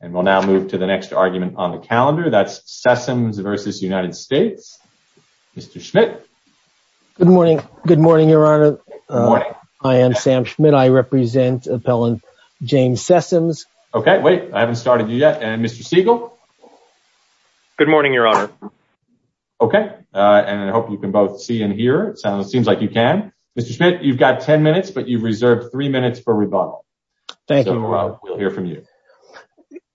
And we'll now move to the next argument on the calendar. That's Sessoms v. United States. Mr. Schmidt. Good morning. Good morning, Your Honor. I am Sam Schmidt. I represent Appellant James Sessoms. Okay, wait, I haven't started you yet. And Mr. Siegel. Good morning, Your Honor. Okay, and I hope you can both see and hear. It seems like you can. but you've reserved three minutes for rebuttal. Thank you, Your Honor. We'll hear from you.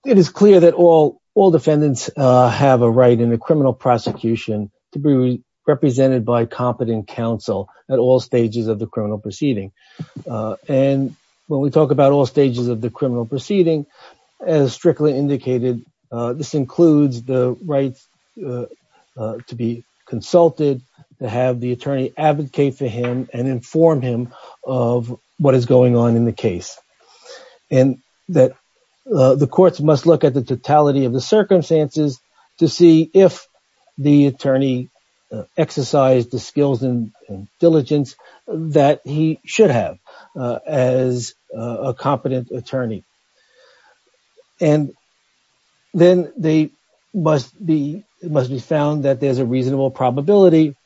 It is clear that all defendants have a right in a criminal prosecution to be represented by competent counsel at all stages of the criminal proceeding. And when we talk about all stages of the criminal proceeding, as Strickland indicated, this includes the right to be consulted, to have the attorney advocate for him and inform him of what is going on in the case. And that the courts must look at the totality of the circumstances to see if the attorney exercised the skills and diligence that he should have as a competent attorney. And then it must be found that there's a reasonable probability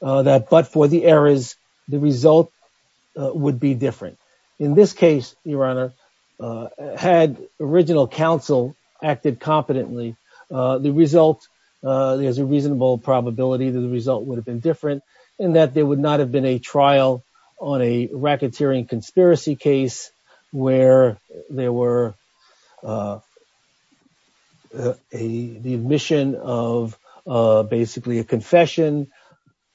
that but for the errors, the result would be different. In this case, Your Honor, had original counsel acted competently, the result, there's a reasonable probability that the result would have been different and that there would not have been a trial on a racketeering conspiracy case where there were the admission of basically a confession,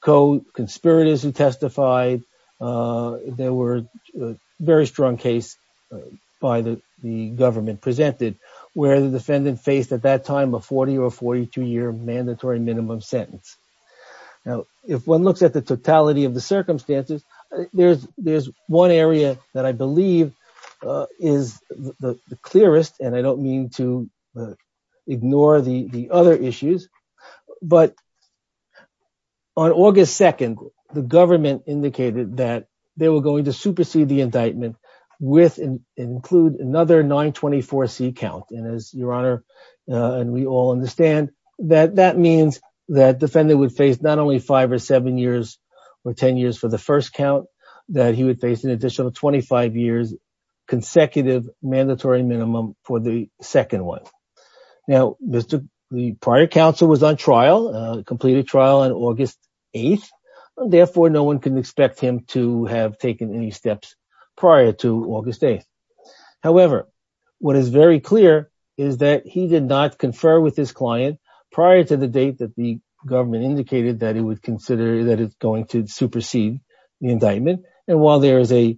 co-conspirators who testified, there were very strong case by the government presented where the defendant faced at that time a 40 or 42 year mandatory minimum sentence. Now, if one looks at the totality of the circumstances, there's one area that I believe is the clearest and I don't mean to ignore the other issues, but on August 2nd, the government indicated that they were going to supersede the indictment with include another 924C count. And as Your Honor, and we all understand that that means that defendant would face not only five or seven years or 10 years for the first count that he would face an additional 25 years consecutive mandatory minimum for the second one. Now, the prior counsel was on trial, completed trial on August 8th, and therefore no one can expect him to have taken any steps prior to August 8th. However, what is very clear is that he did not confer with his client prior to the date that the government indicated that he would consider that it's going to supersede the indictment. And while there is a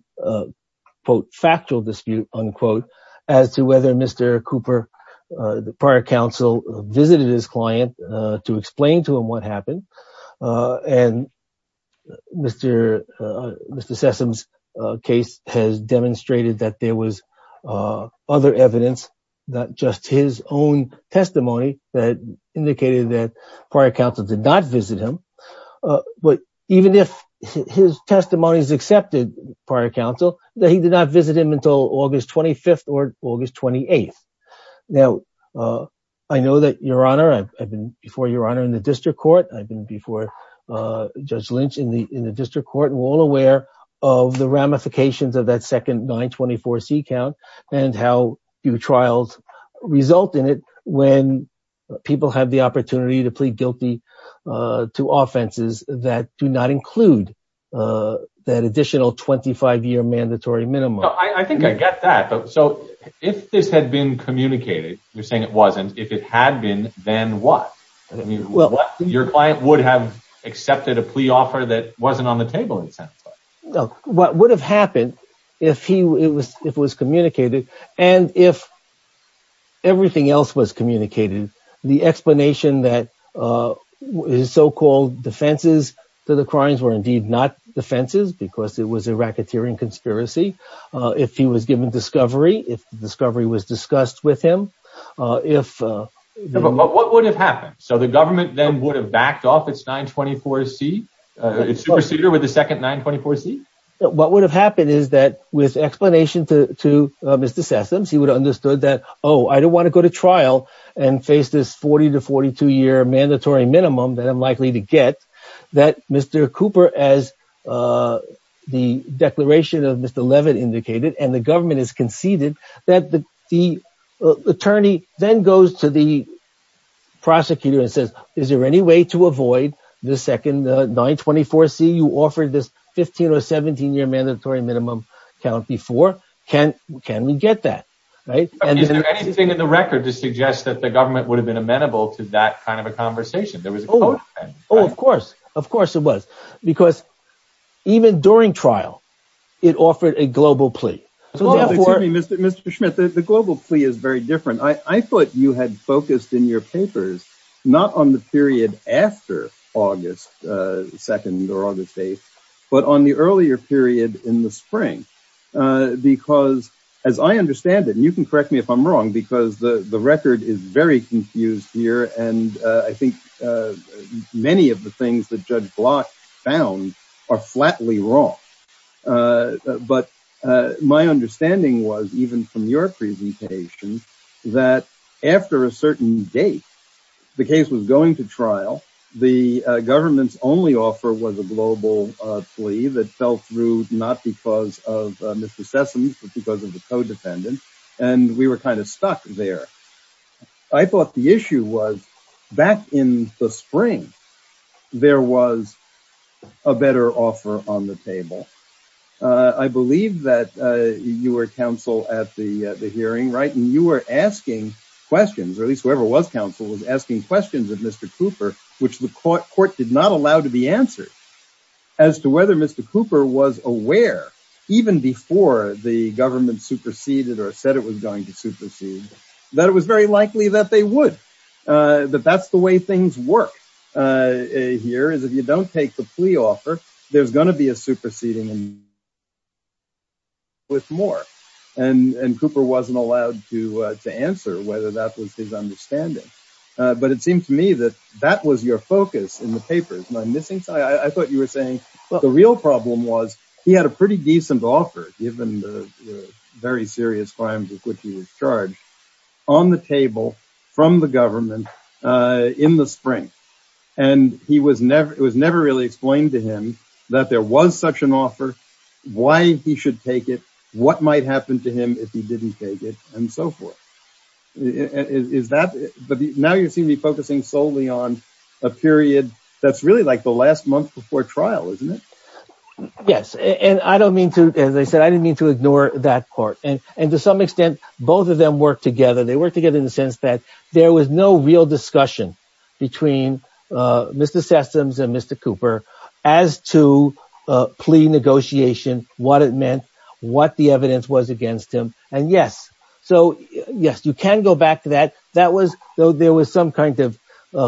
quote, factual dispute unquote, as to whether Mr. Cooper, the prior counsel visited his client to explain to him what happened. And Mr. Sessom's case has demonstrated that there was other evidence, not just his own testimony that indicated that prior counsel did not visit him. But even if his testimonies accepted prior counsel, that he did not visit him until August 25th or August 28th. Now, I know that Your Honor, I've been before Your Honor in the district court, I've been before Judge Lynch in the district court, we're all aware of the ramifications of that second 924C count and how your trials result in it when people have the opportunity to plead guilty to offenses that do not include that additional 25 year mandatory minimum. I think I get that. So if this had been communicated, you're saying it wasn't, if it had been, then what? I mean, your client would have accepted a plea offer that wasn't on the table it sounds like. What would have happened if it was communicated and if everything else was communicated, the explanation that his so-called defenses to the crimes were indeed not defenses because it was a racketeering conspiracy, if he was given discovery, if the discovery was discussed with him, if- But what would have happened? So the government then would have backed off its 924C, its procedure with the second 924C? What would have happened is that with explanation to Mr. Sessoms, he would have understood that, oh, I don't want to go to trial and face this 40 to 42 year mandatory minimum that I'm likely to get, that Mr. Cooper, as the declaration of Mr. Leavitt indicated and the government has conceded, that the attorney then goes to the prosecutor and says, is there any way to avoid the second 924C? You offered this 15 or 17 year mandatory minimum count before can we get that, right? Is there anything in the record to suggest that the government would have been amenable to that kind of a conversation? Oh, of course, of course it was. Because even during trial, it offered a global plea. So therefore- Excuse me, Mr. Schmidt, the global plea is very different. I thought you had focused in your papers, not on the period after August 2nd or August 8th, but on the earlier period in the spring. Because as I understand it, and you can correct me if I'm wrong, because the record is very confused here. And I think many of the things that Judge Block found are flatly wrong. But my understanding was, even from your presentation, that after a certain date, the case was going to trial. The government's only offer was a global plea that fell through, not because of Mr. Sessoms, but because of the co-defendant. And we were kind of stuck there. I thought the issue was, back in the spring, there was a better offer on the table. I believe that you were counsel at the hearing, right? And you were asking questions, or at least whoever was counsel was asking questions of Mr. Cooper, which the court did not allow to be answered as to whether Mr. Cooper was aware, even before the government superseded or said it was going to supersede. That it was very likely that they would, that that's the way things work here, is if you don't take the plea offer, there's going to be a superseding with more. And Cooper wasn't allowed to answer whether that was his understanding. But it seemed to me that that was your focus in the papers. And I'm missing, I thought you were saying, well, the real problem was he had a pretty decent offer, given the very serious crimes with which he was charged, on the table from the government in the spring. And it was never really explained to him that there was such an offer, why he should take it, what might happen to him if he didn't take it, and so forth. But now you seem to be focusing solely on a period that's really like the last month before trial, isn't it? Yes, and I don't mean to, as I said, I didn't mean to ignore that part. And to some extent, both of them work together. They work together in the sense that there was no real discussion between Mr. Sessoms and Mr. Cooper as to plea negotiation, what it meant, what the evidence was against him. And yes, so yes, you can go back to that. That was, there was some kind of,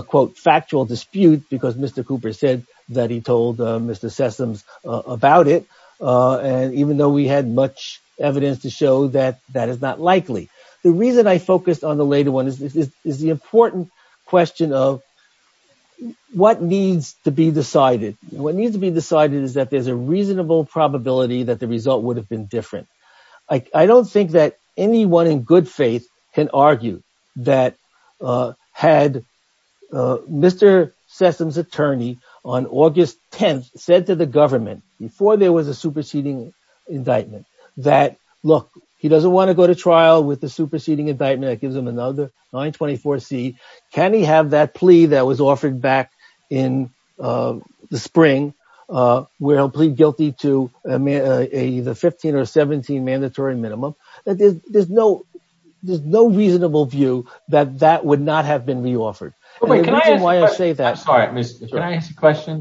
quote, factual dispute because Mr. Cooper said that he told Mr. Sessoms about it. And even though we had much evidence to show that that is not likely. The reason I focused on the later one is the important question of what needs to be decided. What needs to be decided is that there's a reasonable probability that the result would have been different. that had Mr. Sessoms' attorney on August 10th said to the government before there was a superseding indictment that, look, he doesn't wanna go to trial with the superseding indictment that gives him another 924C. Can he have that plea that was offered back in the spring where he'll plead guilty to either 15 or 17 mandatory minimum? That there's no reasonable view that that would not have been re-offered. And the reason why I say that-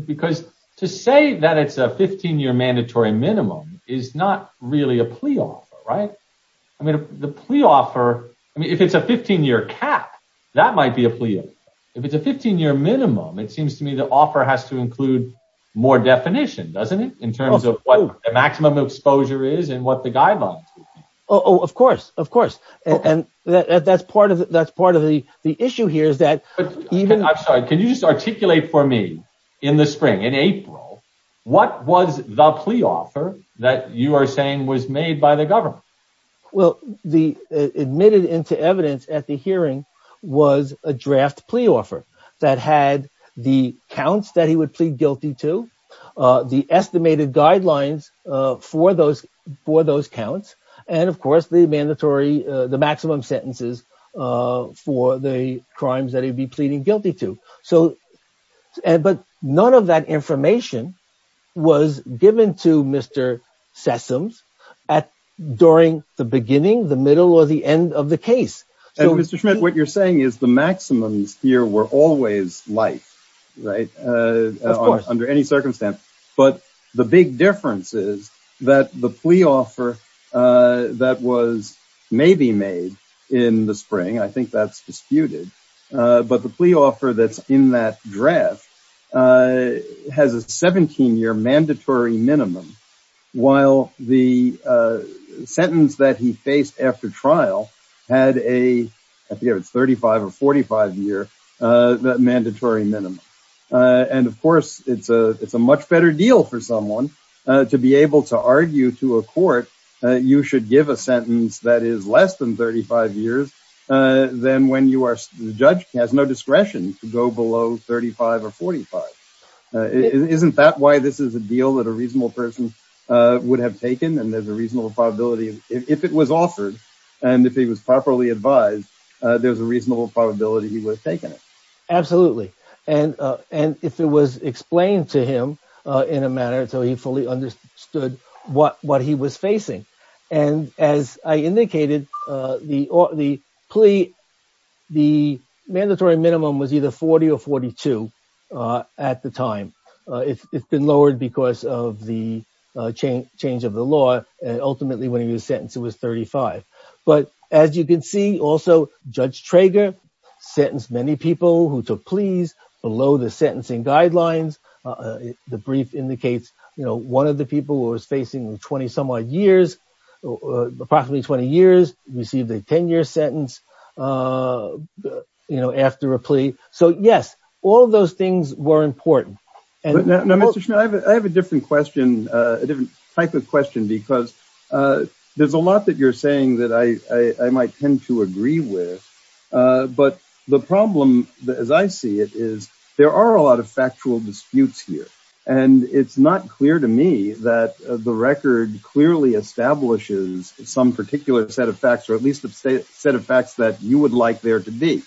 Because to say that it's a 15-year mandatory minimum is not really a plea offer, right? I mean, the plea offer, I mean, if it's a 15-year cap, that might be a plea offer. If it's a 15-year minimum, it seems to me the offer has to include more definition, doesn't it? In terms of what the maximum exposure is and what the guidelines would be. Oh, of course, of course. And that's part of the issue here is that- I'm sorry, can you just articulate for me in the spring, in April, what was the plea offer that you are saying was made by the government? Well, admitted into evidence at the hearing was a draft plea offer that had the counts that he would plead guilty to, the estimated guidelines for those counts, and of course, the mandatory, the maximum sentences for the crimes that he'd be pleading guilty to. But none of that information was given to Mr. Sessoms during the beginning, the middle, or the end of the case. So- And Mr. Schmidt, what you're saying is the maximums here were always life, right? Of course. Under any circumstance, but the big difference is that the plea offer that was maybe made in the spring, I think that's disputed, but the plea offer that's in that draft has a 17-year mandatory minimum, while the sentence that he faced after trial had a, I forget if it's 35 or 45 year, that mandatory minimum. And of course, it's a much better deal for someone to be able to argue to a court you should give a sentence that is less than 35 years than when the judge has no discretion to go below 35 or 45. Isn't that why this is a deal that a reasonable person would have taken? And there's a reasonable probability, if it was offered and if he was properly advised, there's a reasonable probability he would have taken it. Absolutely, and if it was explained to him in a manner so he fully understood what he was facing. And as I indicated, the plea, the mandatory minimum was either 40 or 42 at the time. It's been lowered because of the change of the law, and ultimately when he was sentenced, it was 35. But as you can see, also Judge Trager sentenced many people who took pleas below the sentencing guidelines. The brief indicates, one of the people who was facing approximately 20 years received a 10 year sentence after a plea. So yes, all of those things were important. And- Mr. Schmidt, I have a different type of question because there's a lot that you're saying that I might tend to agree with, but the problem as I see it is there are a lot of factual disputes here. And it's not clear to me that the record clearly establishes some particular set of facts or at least a set of facts that you would like there to be.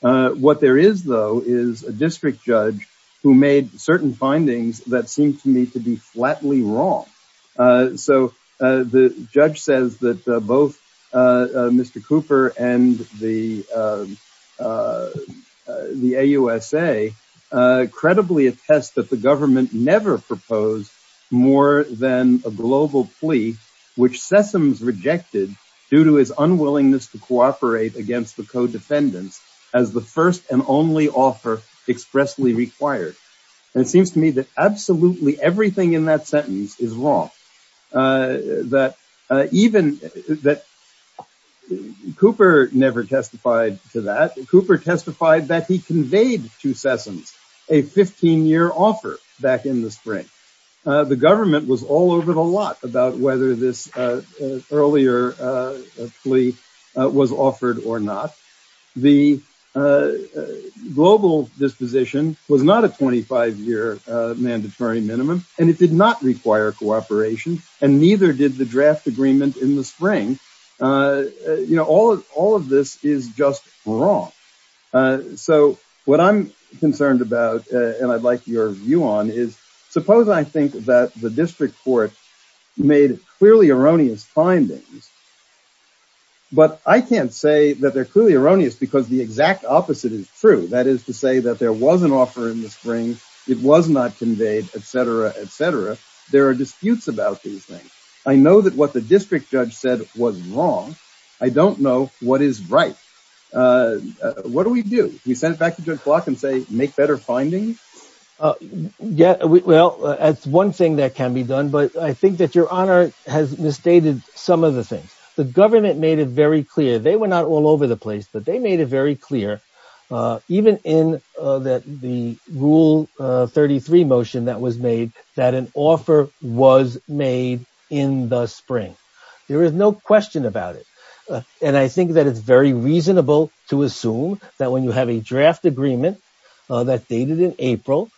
What there is though is a district judge who made certain findings that seemed to me to be flatly wrong. So the judge says that both Mr. Cooper and the AUSA credibly attest that the government never proposed more than a global plea, which Sessoms rejected due to his unwillingness to cooperate against the co-defendants as the first and only offer expressly required. And it seems to me that absolutely everything in that sentence is wrong. That even that Cooper never testified to that. A 15-year offer back in the spring. The government was all over the lot about whether this earlier plea was offered or not. The global disposition was not a 25-year mandatory minimum and it did not require cooperation and neither did the draft agreement in the spring. All of this is just wrong. So what I'm concerned about and I'd like your view on is suppose I think that the district court made clearly erroneous findings, but I can't say that they're clearly erroneous because the exact opposite is true. That is to say that there was an offer in the spring. It was not conveyed, et cetera, et cetera. There are disputes about these things. I know that what the district judge said was wrong. I don't know what is right. What do we do? We send it back to judge Block and say, make better findings? Well, that's one thing that can be done, but I think that your honor has misstated some of the things. The government made it very clear. They were not all over the place, but they made it very clear, even in the rule 33 motion that was made, that an offer was made in the spring. There is no question about it. And I think that it's very reasonable to assume that when you have a draft agreement that dated in April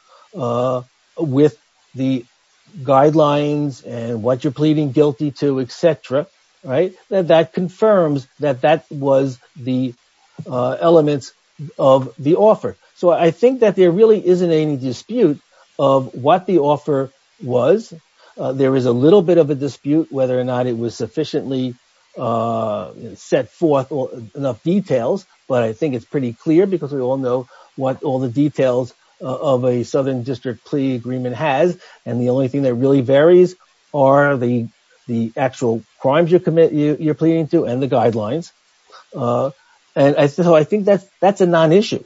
with the guidelines and what you're pleading guilty to, et cetera, that that confirms that that was the elements of the offer. So I think that there really isn't any dispute of what the offer was. There is a little bit of a dispute whether or not it was sufficiently set forth or enough details. But I think it's pretty clear because we all know what all the details of a Southern district plea agreement has. And the only thing that really varies are the actual crimes you're pleading to and the guidelines. And so I think that's a non-issue,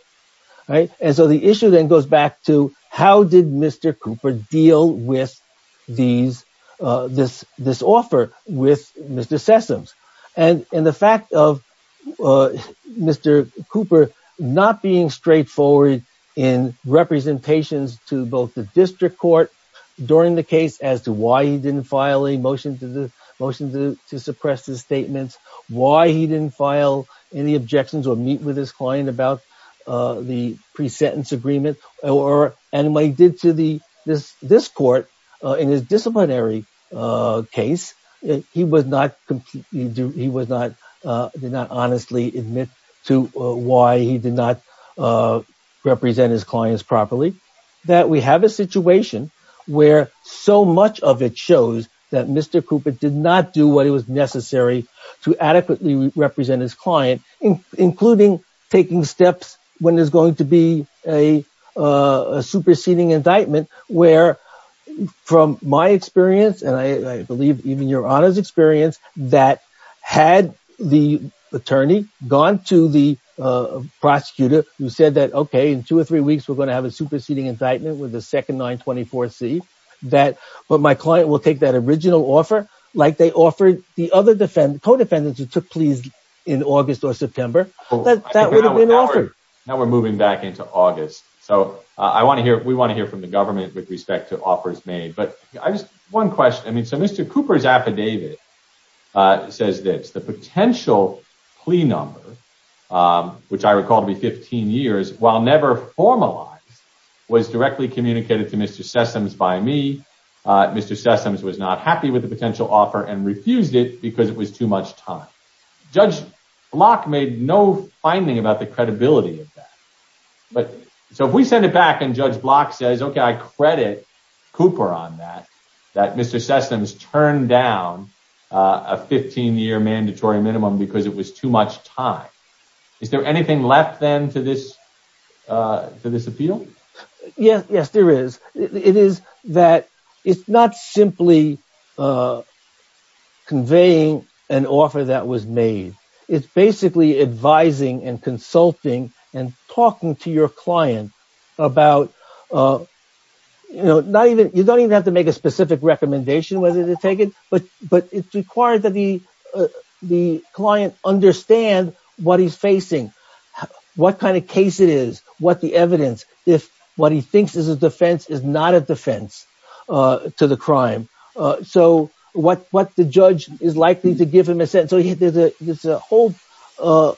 right? And so the issue then goes back to how did Mr. Cooper deal with this offer? With Mr. Sessoms. And the fact of Mr. Cooper not being straightforward in representations to both the district court during the case as to why he didn't file a motion to suppress his statements, why he didn't file any objections or meet with his client about the pre-sentence agreement or anybody did to this court in his disciplinary case he did not honestly admit to why he did not represent his clients properly. That we have a situation where so much of it shows that Mr. Cooper did not do what it was necessary to adequately represent his client, including taking steps when there's going to be a superseding indictment where from my experience and I believe even your honor's experience that had the attorney gone to the prosecutor who said that, okay, in two or three weeks we're gonna have a superseding indictment with the second 924C, but my client will take that original offer like they offered the other co-defendants who took pleas in August or September, that would have been an offer. Now we're moving back into August. So we wanna hear from the government with respect to offers made. But I just, one question. I mean, so Mr. Cooper's affidavit says this, the potential plea number, which I recall to be 15 years while never formalized was directly communicated to Mr. Sessoms by me. Mr. Sessoms was not happy with the potential offer and refused it because it was too much time. Judge Block made no finding about the credibility of that. But so if we send it back and Judge Block says, okay, I credit Cooper on that, that Mr. Sessoms turned down a 15 year mandatory minimum because it was too much time. Is there anything left then to this appeal? Yes, there is. It is that it's not simply conveying an offer that was made. It's basically advising and consulting and talking to your client about, you don't even have to make a specific recommendation whether to take it, but it's required that the client understand what he's facing, what kind of case it is, what the evidence, if what he thinks is a defense is not a defense to the crime. So what the judge is likely to give him a sentence. So there's a whole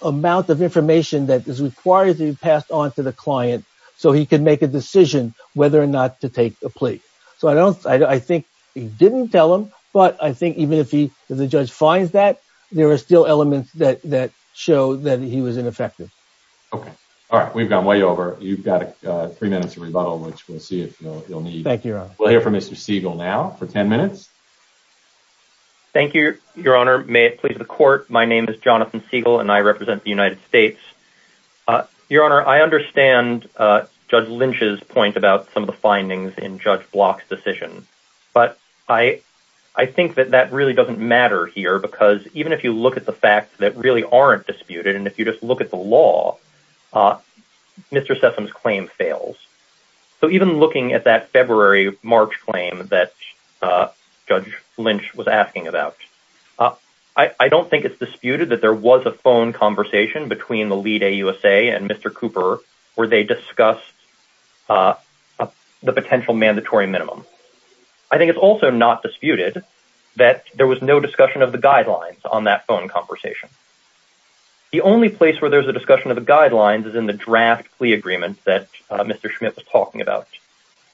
amount of information that is required to be passed on to the client so he can make a decision whether or not to take a plea. So I think he didn't tell him, but I think even if the judge finds that, there are still elements that show that he was ineffective. Okay, all right, we've gone way over. You've got three minutes of rebuttal, which we'll see if you'll need. Thank you, Your Honor. We'll hear from Mr. Siegel now for 10 minutes. Thank you, Your Honor. May it please the court. My name is Jonathan Siegel and I represent the United States. Your Honor, I understand Judge Lynch's point about some of the findings in Judge Block's decision, but I think that that really doesn't matter here because even if you look at the facts that really aren't disputed, and if you just look at the law, Mr. Sessom's claim fails. So even looking at that February-March claim that Judge Lynch was asking about, I don't think it's disputed that there was a phone conversation between the lead AUSA and Mr. Cooper where they discussed the potential mandatory minimum. I think it's also not disputed that there was no discussion of the guidelines on that phone conversation. The only place where there's a discussion of the guidelines is in the draft plea agreement that Mr. Schmidt was talking about.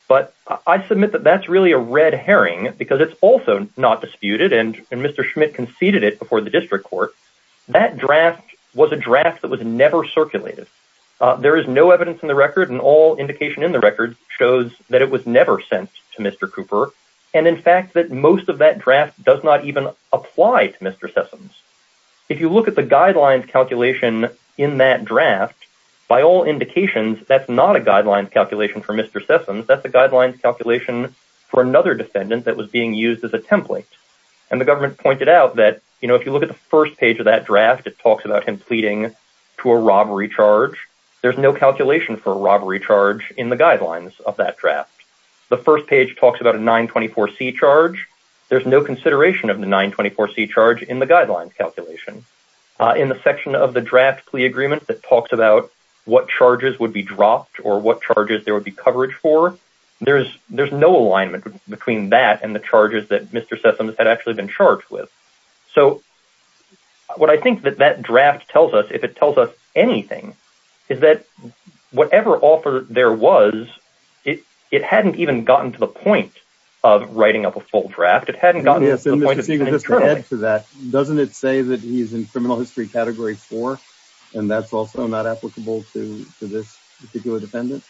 But I submit that that's really a red herring because it's also not disputed and Mr. Schmidt conceded it before the district court. That draft was a draft that was never circulated. There is no evidence in the record and all indication in the record shows that it was never sent to Mr. Cooper. And in fact, that most of that draft does not even apply to Mr. Sessoms. If you look at the guidelines calculation in that draft, by all indications, that's not a guidelines calculation for Mr. Sessoms, that's a guidelines calculation for another defendant that was being used as a template. And the government pointed out that, you know, if you look at the first page of that draft, it talks about him pleading to a robbery charge. There's no calculation for a robbery charge in the guidelines of that draft. The first page talks about a 924C charge. There's no consideration of the 924C charge in the guidelines calculation. In the section of the draft plea agreement that talks about what charges would be dropped or what charges there would be coverage for, there's no alignment between that and the charges that Mr. Sessoms had actually been charged with. So what I think that that draft tells us, if it tells us anything, is that whatever offer there was, it hadn't even gotten to the point of writing up a full draft. It hadn't gotten to the point of- Mr. Siegel, just to add to that, doesn't it say that he's in criminal history category four, and that's also not applicable to this particular defendant?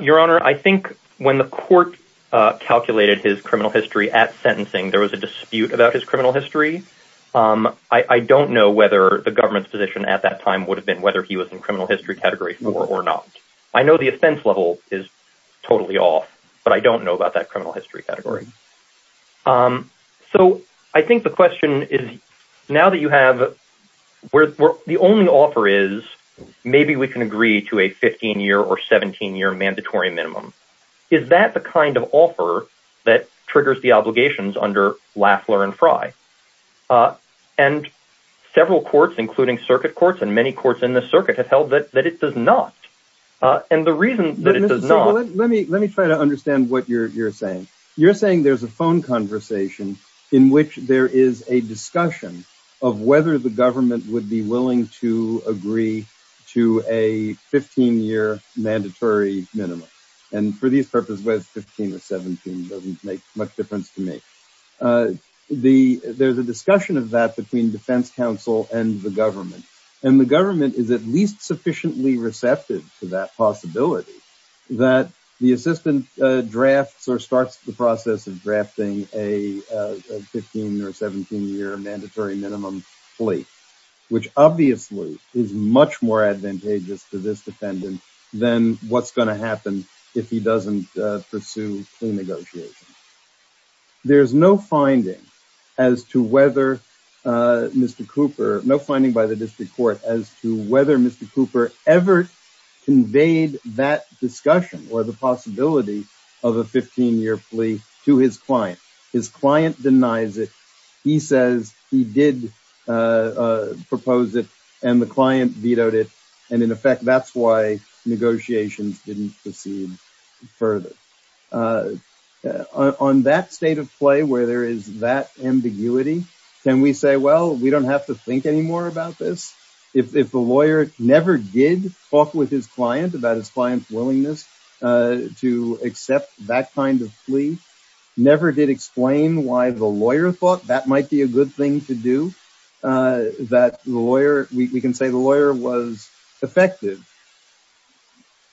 Your Honor, I think when the court calculated his criminal history at sentencing, there was a dispute about his criminal history. I don't know whether the government's position at that time would have been whether he was in criminal history category four or not. I know the offense level is totally off, but I don't know about that criminal history category. So I think the question is, now that you have where the only offer is, maybe we can agree to a 15-year or 17-year mandatory minimum. Is that the kind of offer that triggers the obligations under Lafler and Frye? And several courts, including circuit courts, and many courts in the circuit have held that it does not. And the reason that it does not- Mr. Siegel, let me try to understand what you're saying. You're saying there's a phone conversation in which there is a discussion of whether the government would be willing to agree to a 15-year mandatory minimum. And for these purposes, whether it's 15 or 17 doesn't make much difference to me. There's a discussion of that between defense counsel and the government. And the government is at least sufficiently receptive to that possibility that the assistant drafts or starts the process of drafting a 15 or 17-year mandatory minimum plea, which obviously is much more advantageous to this defendant than what's gonna happen if he doesn't pursue plea negotiations. There's no finding as to whether Mr. Cooper, no finding by the district court as to whether Mr. Cooper ever conveyed that discussion or the possibility of a 15-year plea to his client. His client denies it. He says he did propose it and the client vetoed it. And in effect, that's why negotiations didn't proceed further. On that state of play where there is that ambiguity, can we say, well, we don't have to think anymore about this? If the lawyer never did talk with his client about his client's willingness to accept that kind of plea, never did explain why the lawyer thought that might be a good thing to do, that the lawyer, we can say the lawyer was effective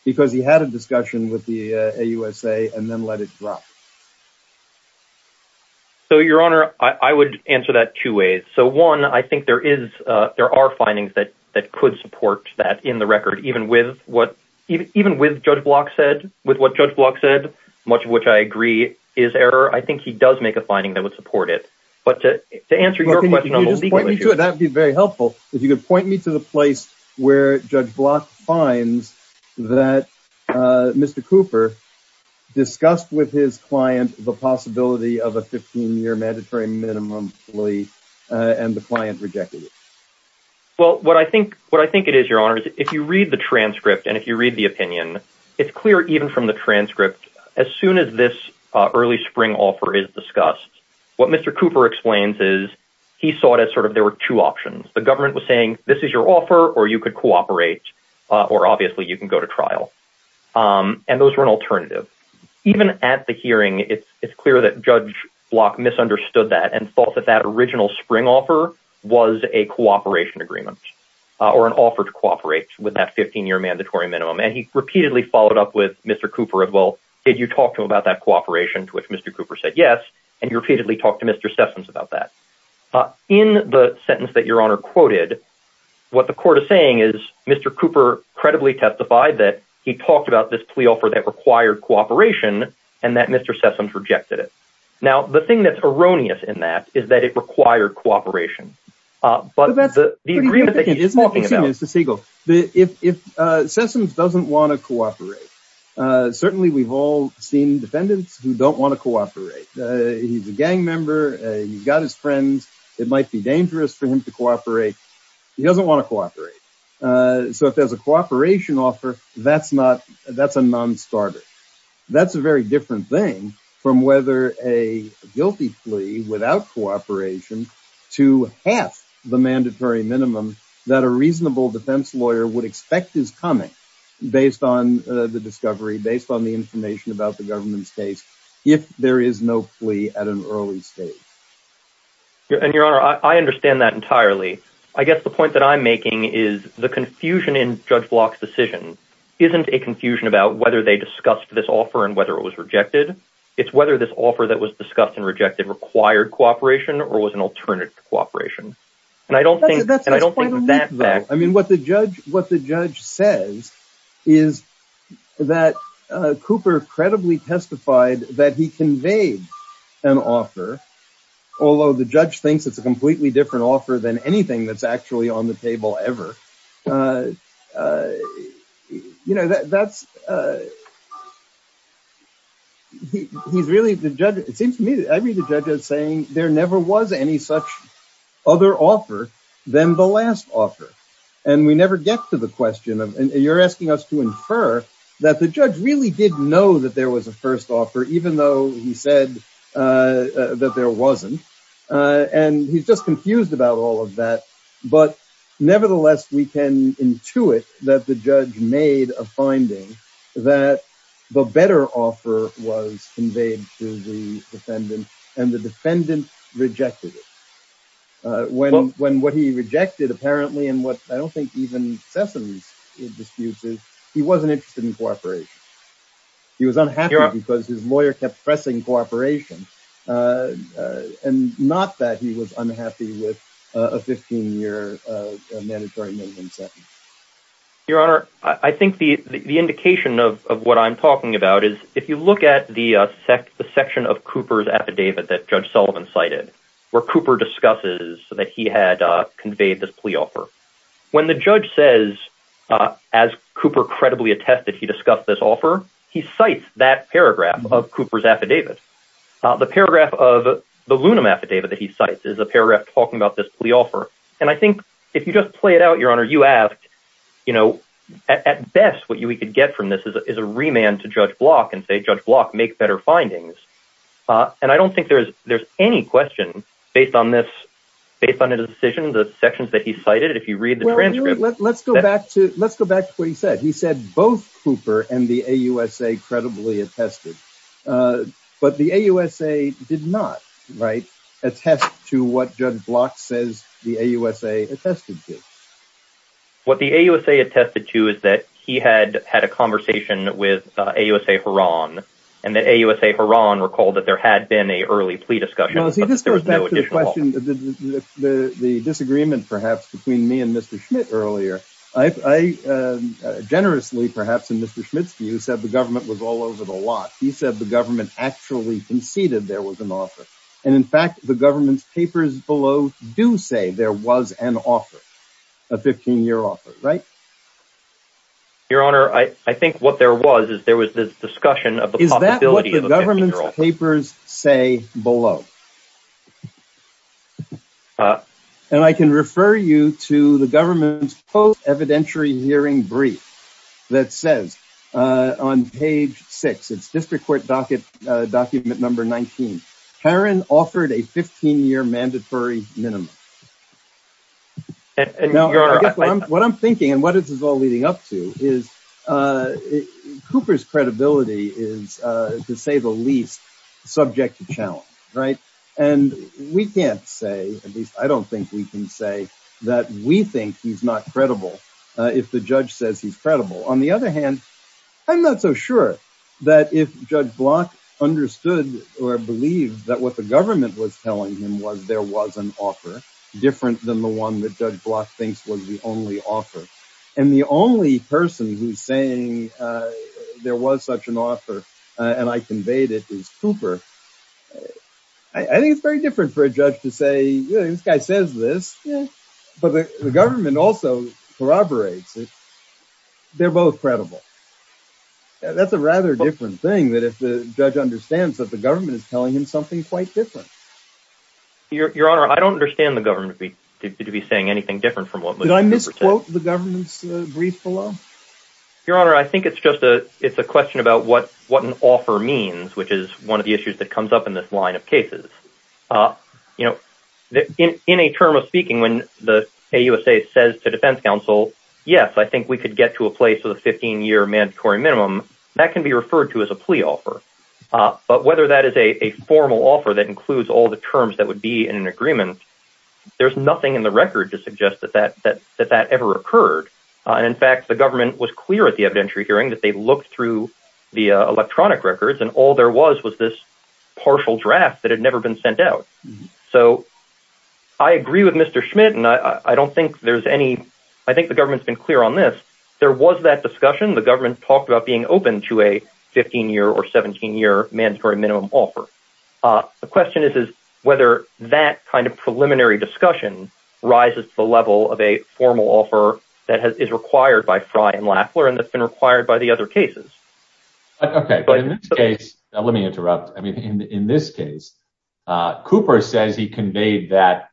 because he had a discussion with the AUSA and then let it drop. So, Your Honor, I would answer that two ways. So, one, I think there are findings that could support that in the record, even with what Judge Block said, with what Judge Block said, much of which I agree is error. I think he does make a finding that would support it. But to answer your question on legal issues- Well, can you just point me to it? That'd be very helpful. If you could point me to the place where Judge Block finds that Mr. Cooper discussed with his client the possibility of a 15-year mandatory minimum plea and the client rejected it. Well, what I think it is, Your Honor, is if you read the transcript and if you read the opinion, it's clear even from the transcript, as soon as this early spring offer is discussed, what Mr. Cooper explains is, he saw it as sort of there were two options. The government was saying, this is your offer or you could cooperate or obviously you can go to trial. And those were an alternative. Even at the hearing, it's clear that Judge Block misunderstood that and thought that that original spring offer was a cooperation agreement or an offer to cooperate with that 15-year mandatory minimum. And he repeatedly followed up with Mr. Cooper as well. Did you talk to him about that cooperation? To which Mr. Cooper said, yes. And he repeatedly talked to Mr. Sessoms about that. In the sentence that Your Honor quoted, what the court is saying is Mr. Cooper credibly testified that he talked about this plea offer that required cooperation and that Mr. Sessoms rejected it. Now, the thing that's erroneous in that is that it required cooperation. But the agreement that he is talking about- Mr. Siegel, if Sessoms doesn't wanna cooperate, certainly we've all seen defendants who don't wanna cooperate. He's a gang member, he's got his friends. It might be dangerous for him to cooperate. He doesn't wanna cooperate. So if there's a cooperation offer, that's a non-starter. That's a very different thing from whether a guilty plea without cooperation to half the mandatory minimum that a reasonable defense lawyer would expect is coming based on the discovery, based on the information about the government's case, if there is no plea at an early stage. And Your Honor, I understand that entirely. I guess the point that I'm making is the confusion in Judge Block's decision isn't a confusion about whether they discussed this offer and whether it was rejected. It's whether this offer that was discussed and rejected required cooperation or was an alternative to cooperation. And I don't think- And I don't think that fact- I mean, what the judge says is that Cooper credibly testified that he conveyed an offer, although the judge thinks it's a completely different offer than anything that's actually on the table ever. You know, that's... He's really, the judge, it seems to me, I read the judge as saying there never was any such other offer than the last offer. And we never get to the question of, and you're asking us to infer that the judge really did know that there was a first offer, even though he said that there wasn't. And he's just confused about all of that. But nevertheless, we can intuit that the judge made a finding that the better offer was conveyed to the defendant and the defendant rejected it. When what he rejected apparently, and what I don't think even Sessoms disputes is, he wasn't interested in cooperation. He was unhappy because his lawyer kept pressing cooperation and not that he was unhappy with a 15-year mandatory minimum sentence. Your Honor, I think the indication of what I'm talking about is, if you look at the section of Cooper's affidavit that Judge Sullivan cited, where Cooper discusses that he had conveyed this plea offer, when the judge says, as Cooper credibly attested, he discussed this offer, he cites that paragraph of Cooper's affidavit. The paragraph of the Lunum affidavit that he cites And I think if you just play it out, Your Honor, you asked, at best, what we could get from this is a remand to Judge Block and say, Judge Block, make better findings. And I don't think there's any question based on this, based on the decision, the sections that he cited, if you read the transcript. Let's go back to what he said. He said both Cooper and the AUSA credibly attested, but the AUSA did not, right? Attest to what Judge Block says the AUSA attested to. What the AUSA attested to is that he had had a conversation with AUSA Horan, and that AUSA Horan recalled that there had been a early plea discussion, but that there was no additional offer. No, see, this goes back to the question, the disagreement, perhaps, between me and Mr. Schmidt earlier I generously, perhaps, in Mr. Schmidt's view, said the government was all over the lot. He said the government actually conceded there was an offer. And in fact, the government's papers below do say there was an offer, a 15-year offer, right? Your Honor, I think what there was is there was this discussion of the possibility- Is that what the government's papers say below? And I can refer you to the government's post-evidentiary hearing brief that says on page six, it's District Court document number 19, Horan offered a 15-year mandatory minimum. What I'm thinking, and what this is all leading up to, is Cooper's credibility is, to say the least, subject to challenge, right? And we can't say, at least I don't think we can say, that we think he's not credible if the judge says he's credible. On the other hand, I'm not so sure that if Judge Block understood or believed that what the government was telling him was there was an offer, different than the one that Judge Block thinks was the only offer. And the only person who's saying there was such an offer, and I conveyed it, is Cooper. I think it's very different for a judge to say, yeah, this guy says this, but the government also corroborates it. They're both credible. That's a rather different thing, that if the judge understands that the government is telling him something quite different. Your Honor, I don't understand the government to be saying anything different from what- Did I misquote the government's brief below? Your Honor, I think it's just a question about what an offer means, which is one of the issues that comes up in this line of cases. In a term of speaking, when the AUSA says to defense counsel, yes, I think we could get to a place with a 15-year mandatory minimum, that can be referred to as a plea offer. But whether that is a formal offer that includes all the terms that would be in an agreement, there's nothing in the record to suggest that that ever occurred. And in fact, the government was clear at the evidentiary hearing that they looked through the electronic records, and all there was was this partial draft that had never been sent out. So I agree with Mr. Schmidt, and I don't think there's any, I think the government's been clear on this. There was that discussion, the government talked about being open to a 15-year or 17-year mandatory minimum offer. The question is whether that kind of preliminary discussion rises to the level of a formal offer that is required by Frye and Lafler, and that's been required by the other cases. Okay, but in this case, now let me interrupt. I mean, in this case, Cooper says he conveyed that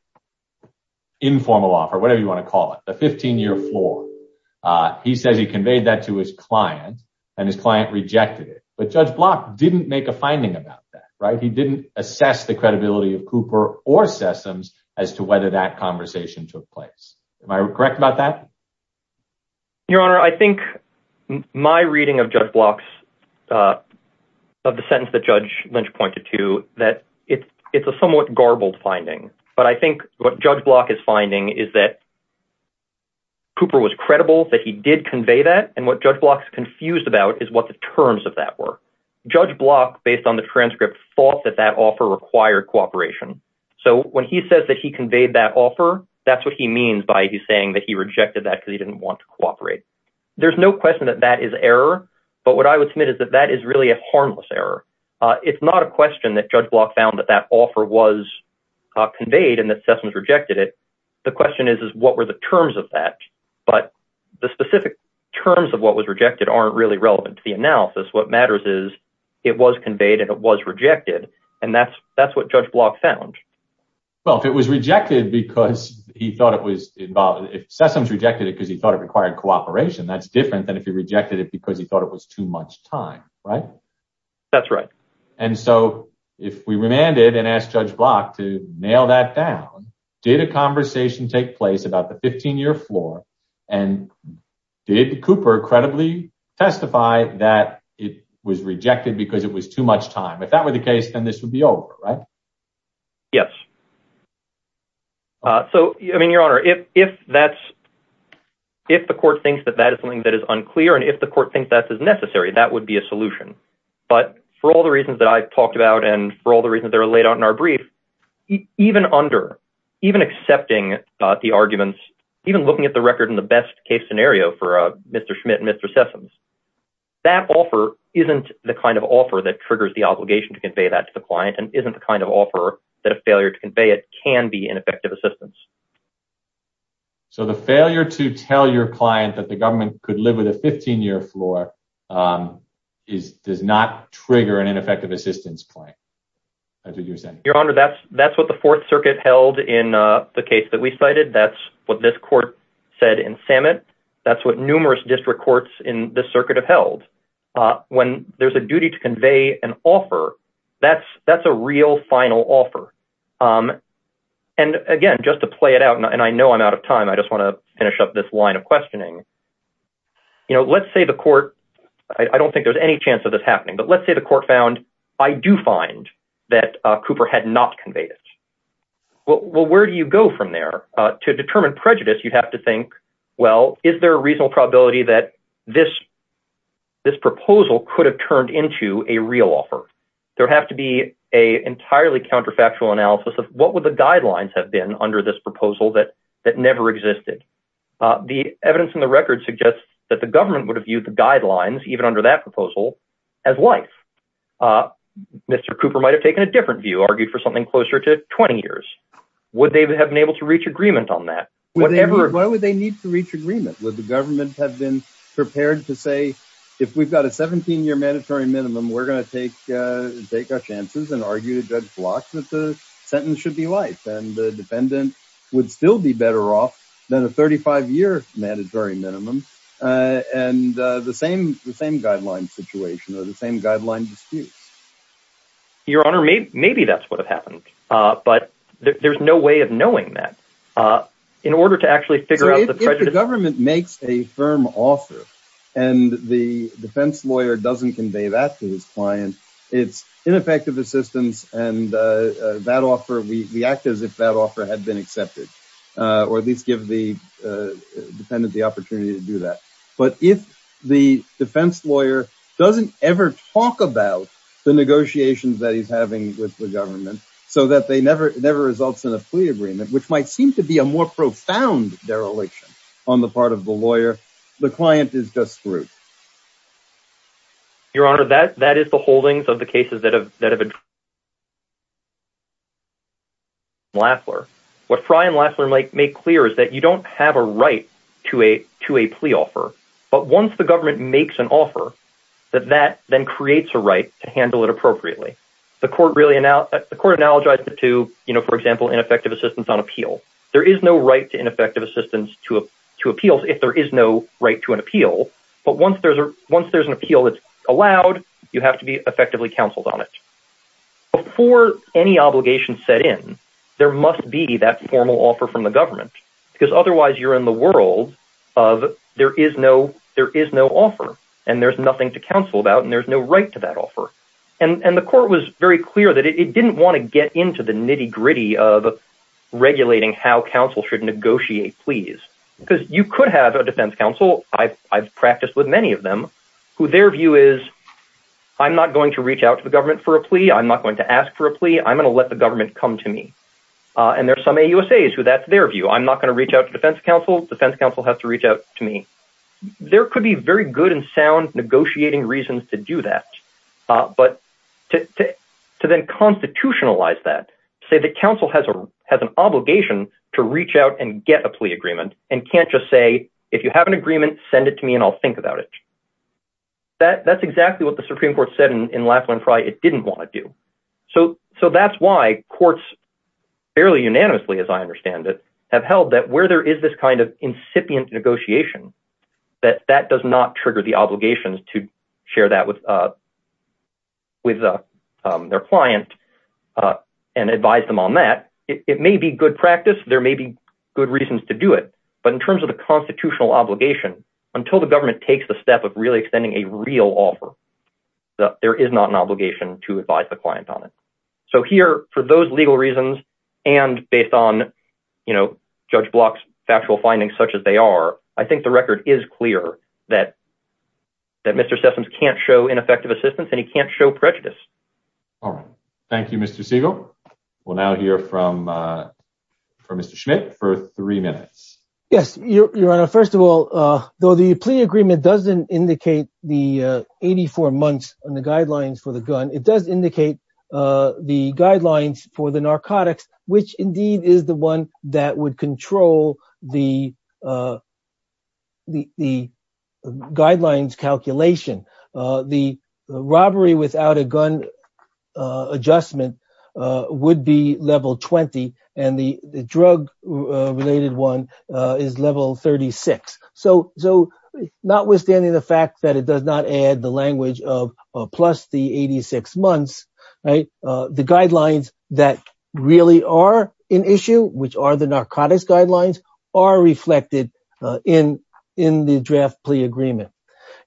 informal offer, whatever you wanna call it, the 15-year floor. He says he conveyed that to his client, and his client rejected it. But Judge Block didn't make a finding about that, right? He didn't assess the credibility of Cooper or Sessoms as to whether that conversation took place. Am I correct about that? Your Honor, I think my reading of Judge Block's, of the sentence that Judge Lynch pointed to, that it's a somewhat garbled finding. But I think what Judge Block is finding is that Cooper was credible, that he did convey that, and what Judge Block's confused about is what the terms of that were. Judge Block, based on the transcript, thought that that offer required cooperation. So when he says that he conveyed that offer, that's what he means by saying that he rejected that because he didn't want to cooperate. There's no question that that is error, but what I would submit is that that is really a harmless error. It's not a question that Judge Block found that that offer was conveyed and that Sessoms rejected it. The question is, is what were the terms of that? But the specific terms of what was rejected aren't really relevant to the analysis. What matters is it was conveyed and it was rejected, and that's what Judge Block found. Well, if it was rejected because he thought it was involved, if Sessoms rejected it because he thought it required cooperation, that's different than if he rejected it because he thought it was too much time, right? That's right. And so if we remanded and asked Judge Block to nail that down, did a conversation take place about the 15-year floor, and did Cooper credibly testify that it was rejected because it was too much time? If that were the case, then this would be over, right? Yes. So, I mean, Your Honor, if the court thinks that that is something that is unclear and if the court thinks that is necessary, that would be a solution. But for all the reasons that I've talked about and for all the reasons that are laid out in our brief, even under, even accepting the arguments, even looking at the record in the best case scenario for Mr. Schmidt and Mr. Sessoms, that offer isn't the kind of offer that triggers the obligation to convey that to the client and isn't the kind of offer that a failure to convey it can be ineffective assistance. So the failure to tell your client that the government could live with a 15-year floor does not trigger an ineffective assistance claim. Your Honor, that's what the Fourth Circuit held in the case that we cited. That's what this court said in Samet. That's what numerous district courts in this circuit have held. When there's a duty to convey an offer, that's a real final offer. And again, just to play it out, and I know I'm out of time, I just wanna finish up this line of questioning. Let's say the court, I don't think there's any chance of this happening, but let's say the court found, I do find that Cooper had not conveyed it. Well, where do you go from there? To determine prejudice, you'd have to think, well, is there a reasonable probability that this proposal could have turned into a real offer? There'd have to be a entirely counterfactual analysis of what would the guidelines have been under this proposal that never existed. The evidence in the record suggests that the government would have viewed the guidelines, even under that proposal, as life. Mr. Cooper might've taken a different view, argued for something closer to 20 years. Would they have been able to reach agreement on that? Whatever- Why would they need to reach agreement? Would the government have been prepared to say, if we've got a 17-year mandatory minimum, we're gonna take our chances and argue to Judge Blocks that the sentence should be life, and the defendant would still be better off than a 35-year mandatory minimum, and the same guideline situation, or the same guideline disputes. Your Honor, maybe that's what had happened, but there's no way of knowing that. In order to actually figure out the prejudice- So if the government makes a firm offer, and the defense lawyer doesn't convey that to his client, it's ineffective assistance, and we act as if that offer had been accepted, or at least give the defendant the opportunity to do that. But if the defense lawyer doesn't ever talk about the negotiations that he's having with the government, so that they never results in a plea agreement, which might seem to be a more profound dereliction on the part of the lawyer, the client is just screwed. Your Honor, that is the holdings of the cases that have been- Lassler, what Fry and Lassler make clear is that you don't have a right to a plea offer, but once the government makes an offer, that that then creates a right to handle it appropriately. The court really, the court analogized it to, for example, ineffective assistance on appeal. There is no right to ineffective assistance to appeals if there is no right to an appeal, but once there's an appeal that's allowed, you have to be effectively counseled on it. Before any obligation set in, there must be that formal offer from the government, because otherwise you're in the world of there is no offer, and there's nothing to counsel about, and there's no right to that offer. And the court was very clear that it didn't wanna get into the nitty gritty of regulating how counsel should negotiate pleas, because you could have a defense counsel, I've practiced with many of them, who their view is, I'm not going to reach out to the government for a plea, I'm not going to ask for a plea, I'm gonna let the government come to me. And there's some AUSAs who that's their view, I'm not gonna reach out to defense counsel, defense counsel has to reach out to me. There could be very good and sound negotiating reasons to do that, but to then constitutionalize that, say the counsel has an obligation to reach out and get a plea agreement, and can't just say, if you have an agreement, send it to me and I'll think about it. That's exactly what the Supreme Court said in Laughlin-Frye, it didn't wanna do. So that's why courts fairly unanimously, as I understand it, have held that where there is this kind of incipient negotiation, that that does not trigger the obligations to share that with their client and advise them on that. It may be good practice, there may be good reasons to do it, but in terms of the constitutional obligation, until the government takes the step of really extending a real offer, there is not an obligation to advise the client on it. So here, for those legal reasons, and based on Judge Block's factual findings, such as they are, I think the record is clear that Mr. Sessoms can't show ineffective assistance and he can't show prejudice. All right, thank you, Mr. Siegel. We'll now hear from Mr. Schmidt for three minutes. Yes, Your Honor, first of all, though the plea agreement doesn't indicate the 84 months on the guidelines for the gun, it does indicate the guidelines for the narcotics, which indeed is the one that would control the guidelines calculation. The robbery without a gun adjustment would be level 20, and the drug-related one is level 36. So notwithstanding the fact that it does not add the language of plus the 86 months, the guidelines that really are an issue, which are the narcotics guidelines, are reflected in the draft plea agreement.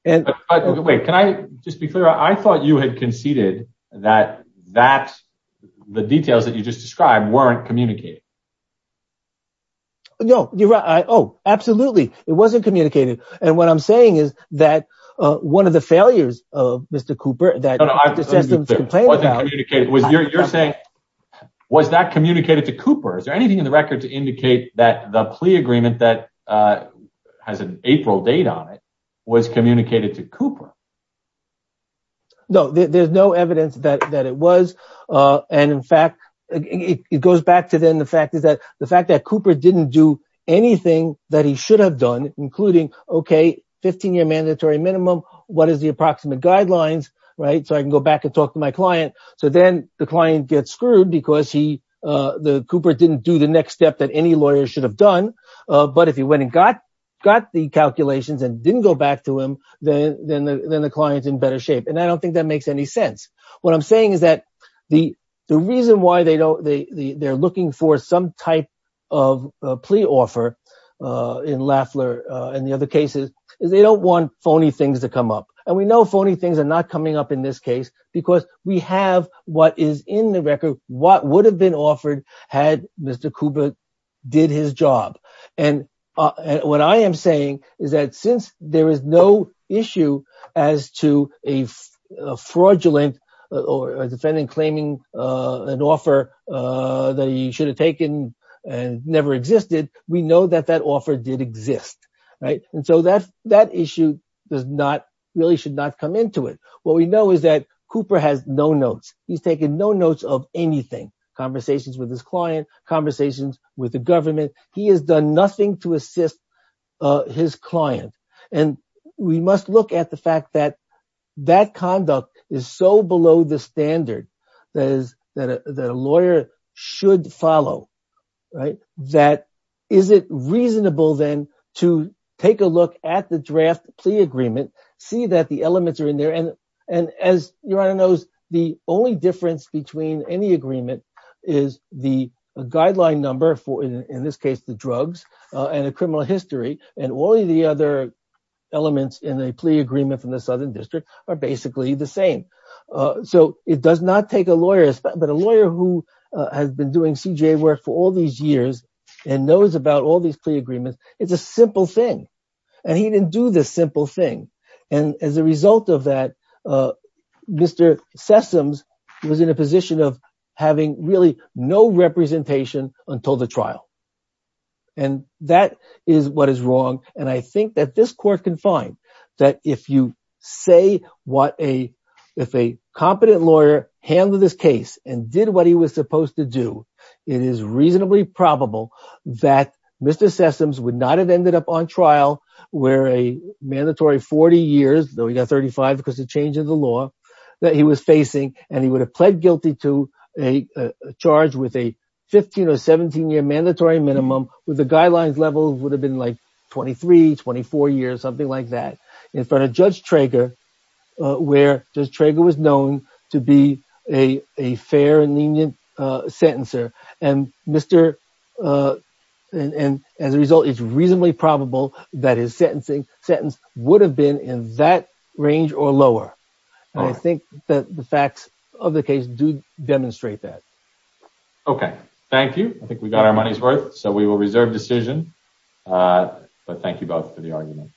Wait, can I just be clear? I thought you had conceded that the details that you just described weren't communicated. No, you're right, oh, absolutely. It wasn't communicated. And what I'm saying is that one of the failures of Mr. Cooper that the system's complaining about- No, no, I'm just being clear. It wasn't communicated, you're saying, was that communicated to Cooper? Is there anything in the record to indicate that the plea agreement that has an April date on it was communicated to Cooper? No, there's no evidence that it was, and in fact, it goes back to then the fact is that the fact that Cooper didn't do anything that he should have done, including, okay, 15-year mandatory minimum, what is the approximate guidelines, right? So I can go back and talk to my client. So then the client gets screwed because Cooper didn't do the next step that any lawyer should have done. But if he went and got the calculations and didn't go back to him, then the client's in better shape. And I don't think that makes any sense. What I'm saying is that the reason why they're looking for some type of a plea offer in Lafler and the other cases is they don't want phony things to come up. And we know phony things are not coming up in this case because we have what is in the record, what would have been offered had Mr. Cooper did his job. And what I am saying is that since there is no issue as to a fraudulent or a defendant claiming an offer that he should have taken and never existed, we know that that offer did exist, right? And so that issue really should not come into it. What we know is that Cooper has no notes. He's taken no notes of anything, conversations with his client, conversations with the government. He has done nothing to assist his client. And we must look at the fact that that conduct is so below the standard that a lawyer should follow, right? That is it reasonable then to take a look at the draft plea agreement, see that the elements are in there. And as Your Honor knows, the only difference between any agreement is the guideline number for, in this case, the drugs and the criminal history. And all of the other elements in a plea agreement from the Southern District are basically the same. So it does not take a lawyer, but a lawyer who has been doing CJA work for all these years and knows about all these plea agreements, it's a simple thing. And he didn't do this simple thing. And as a result of that, Mr. Sessoms was in a position of having really no representation until the trial. And that is what is wrong. And I think that this court can find that if you say what a, if a competent lawyer handled this case and did what he was supposed to do, it is reasonably probable that Mr. Sessoms would not have ended up on trial where a mandatory 40 years, though he got 35 because the change in the law that he was facing, and he would have pled guilty to a charge with a 15 or 17 year mandatory minimum with the guidelines level would have been like 23, 24 years, something like that in front of Judge Trager, where Judge Trager was known to be a fair and lenient sentencer. And Mr., and as a result, it's reasonably probable that his sentencing sentence would have been in that range or lower. And I think that the facts of the case do demonstrate that. Okay, thank you. I think we got our money's worth. So we will reserve decision, but thank you both for the argument.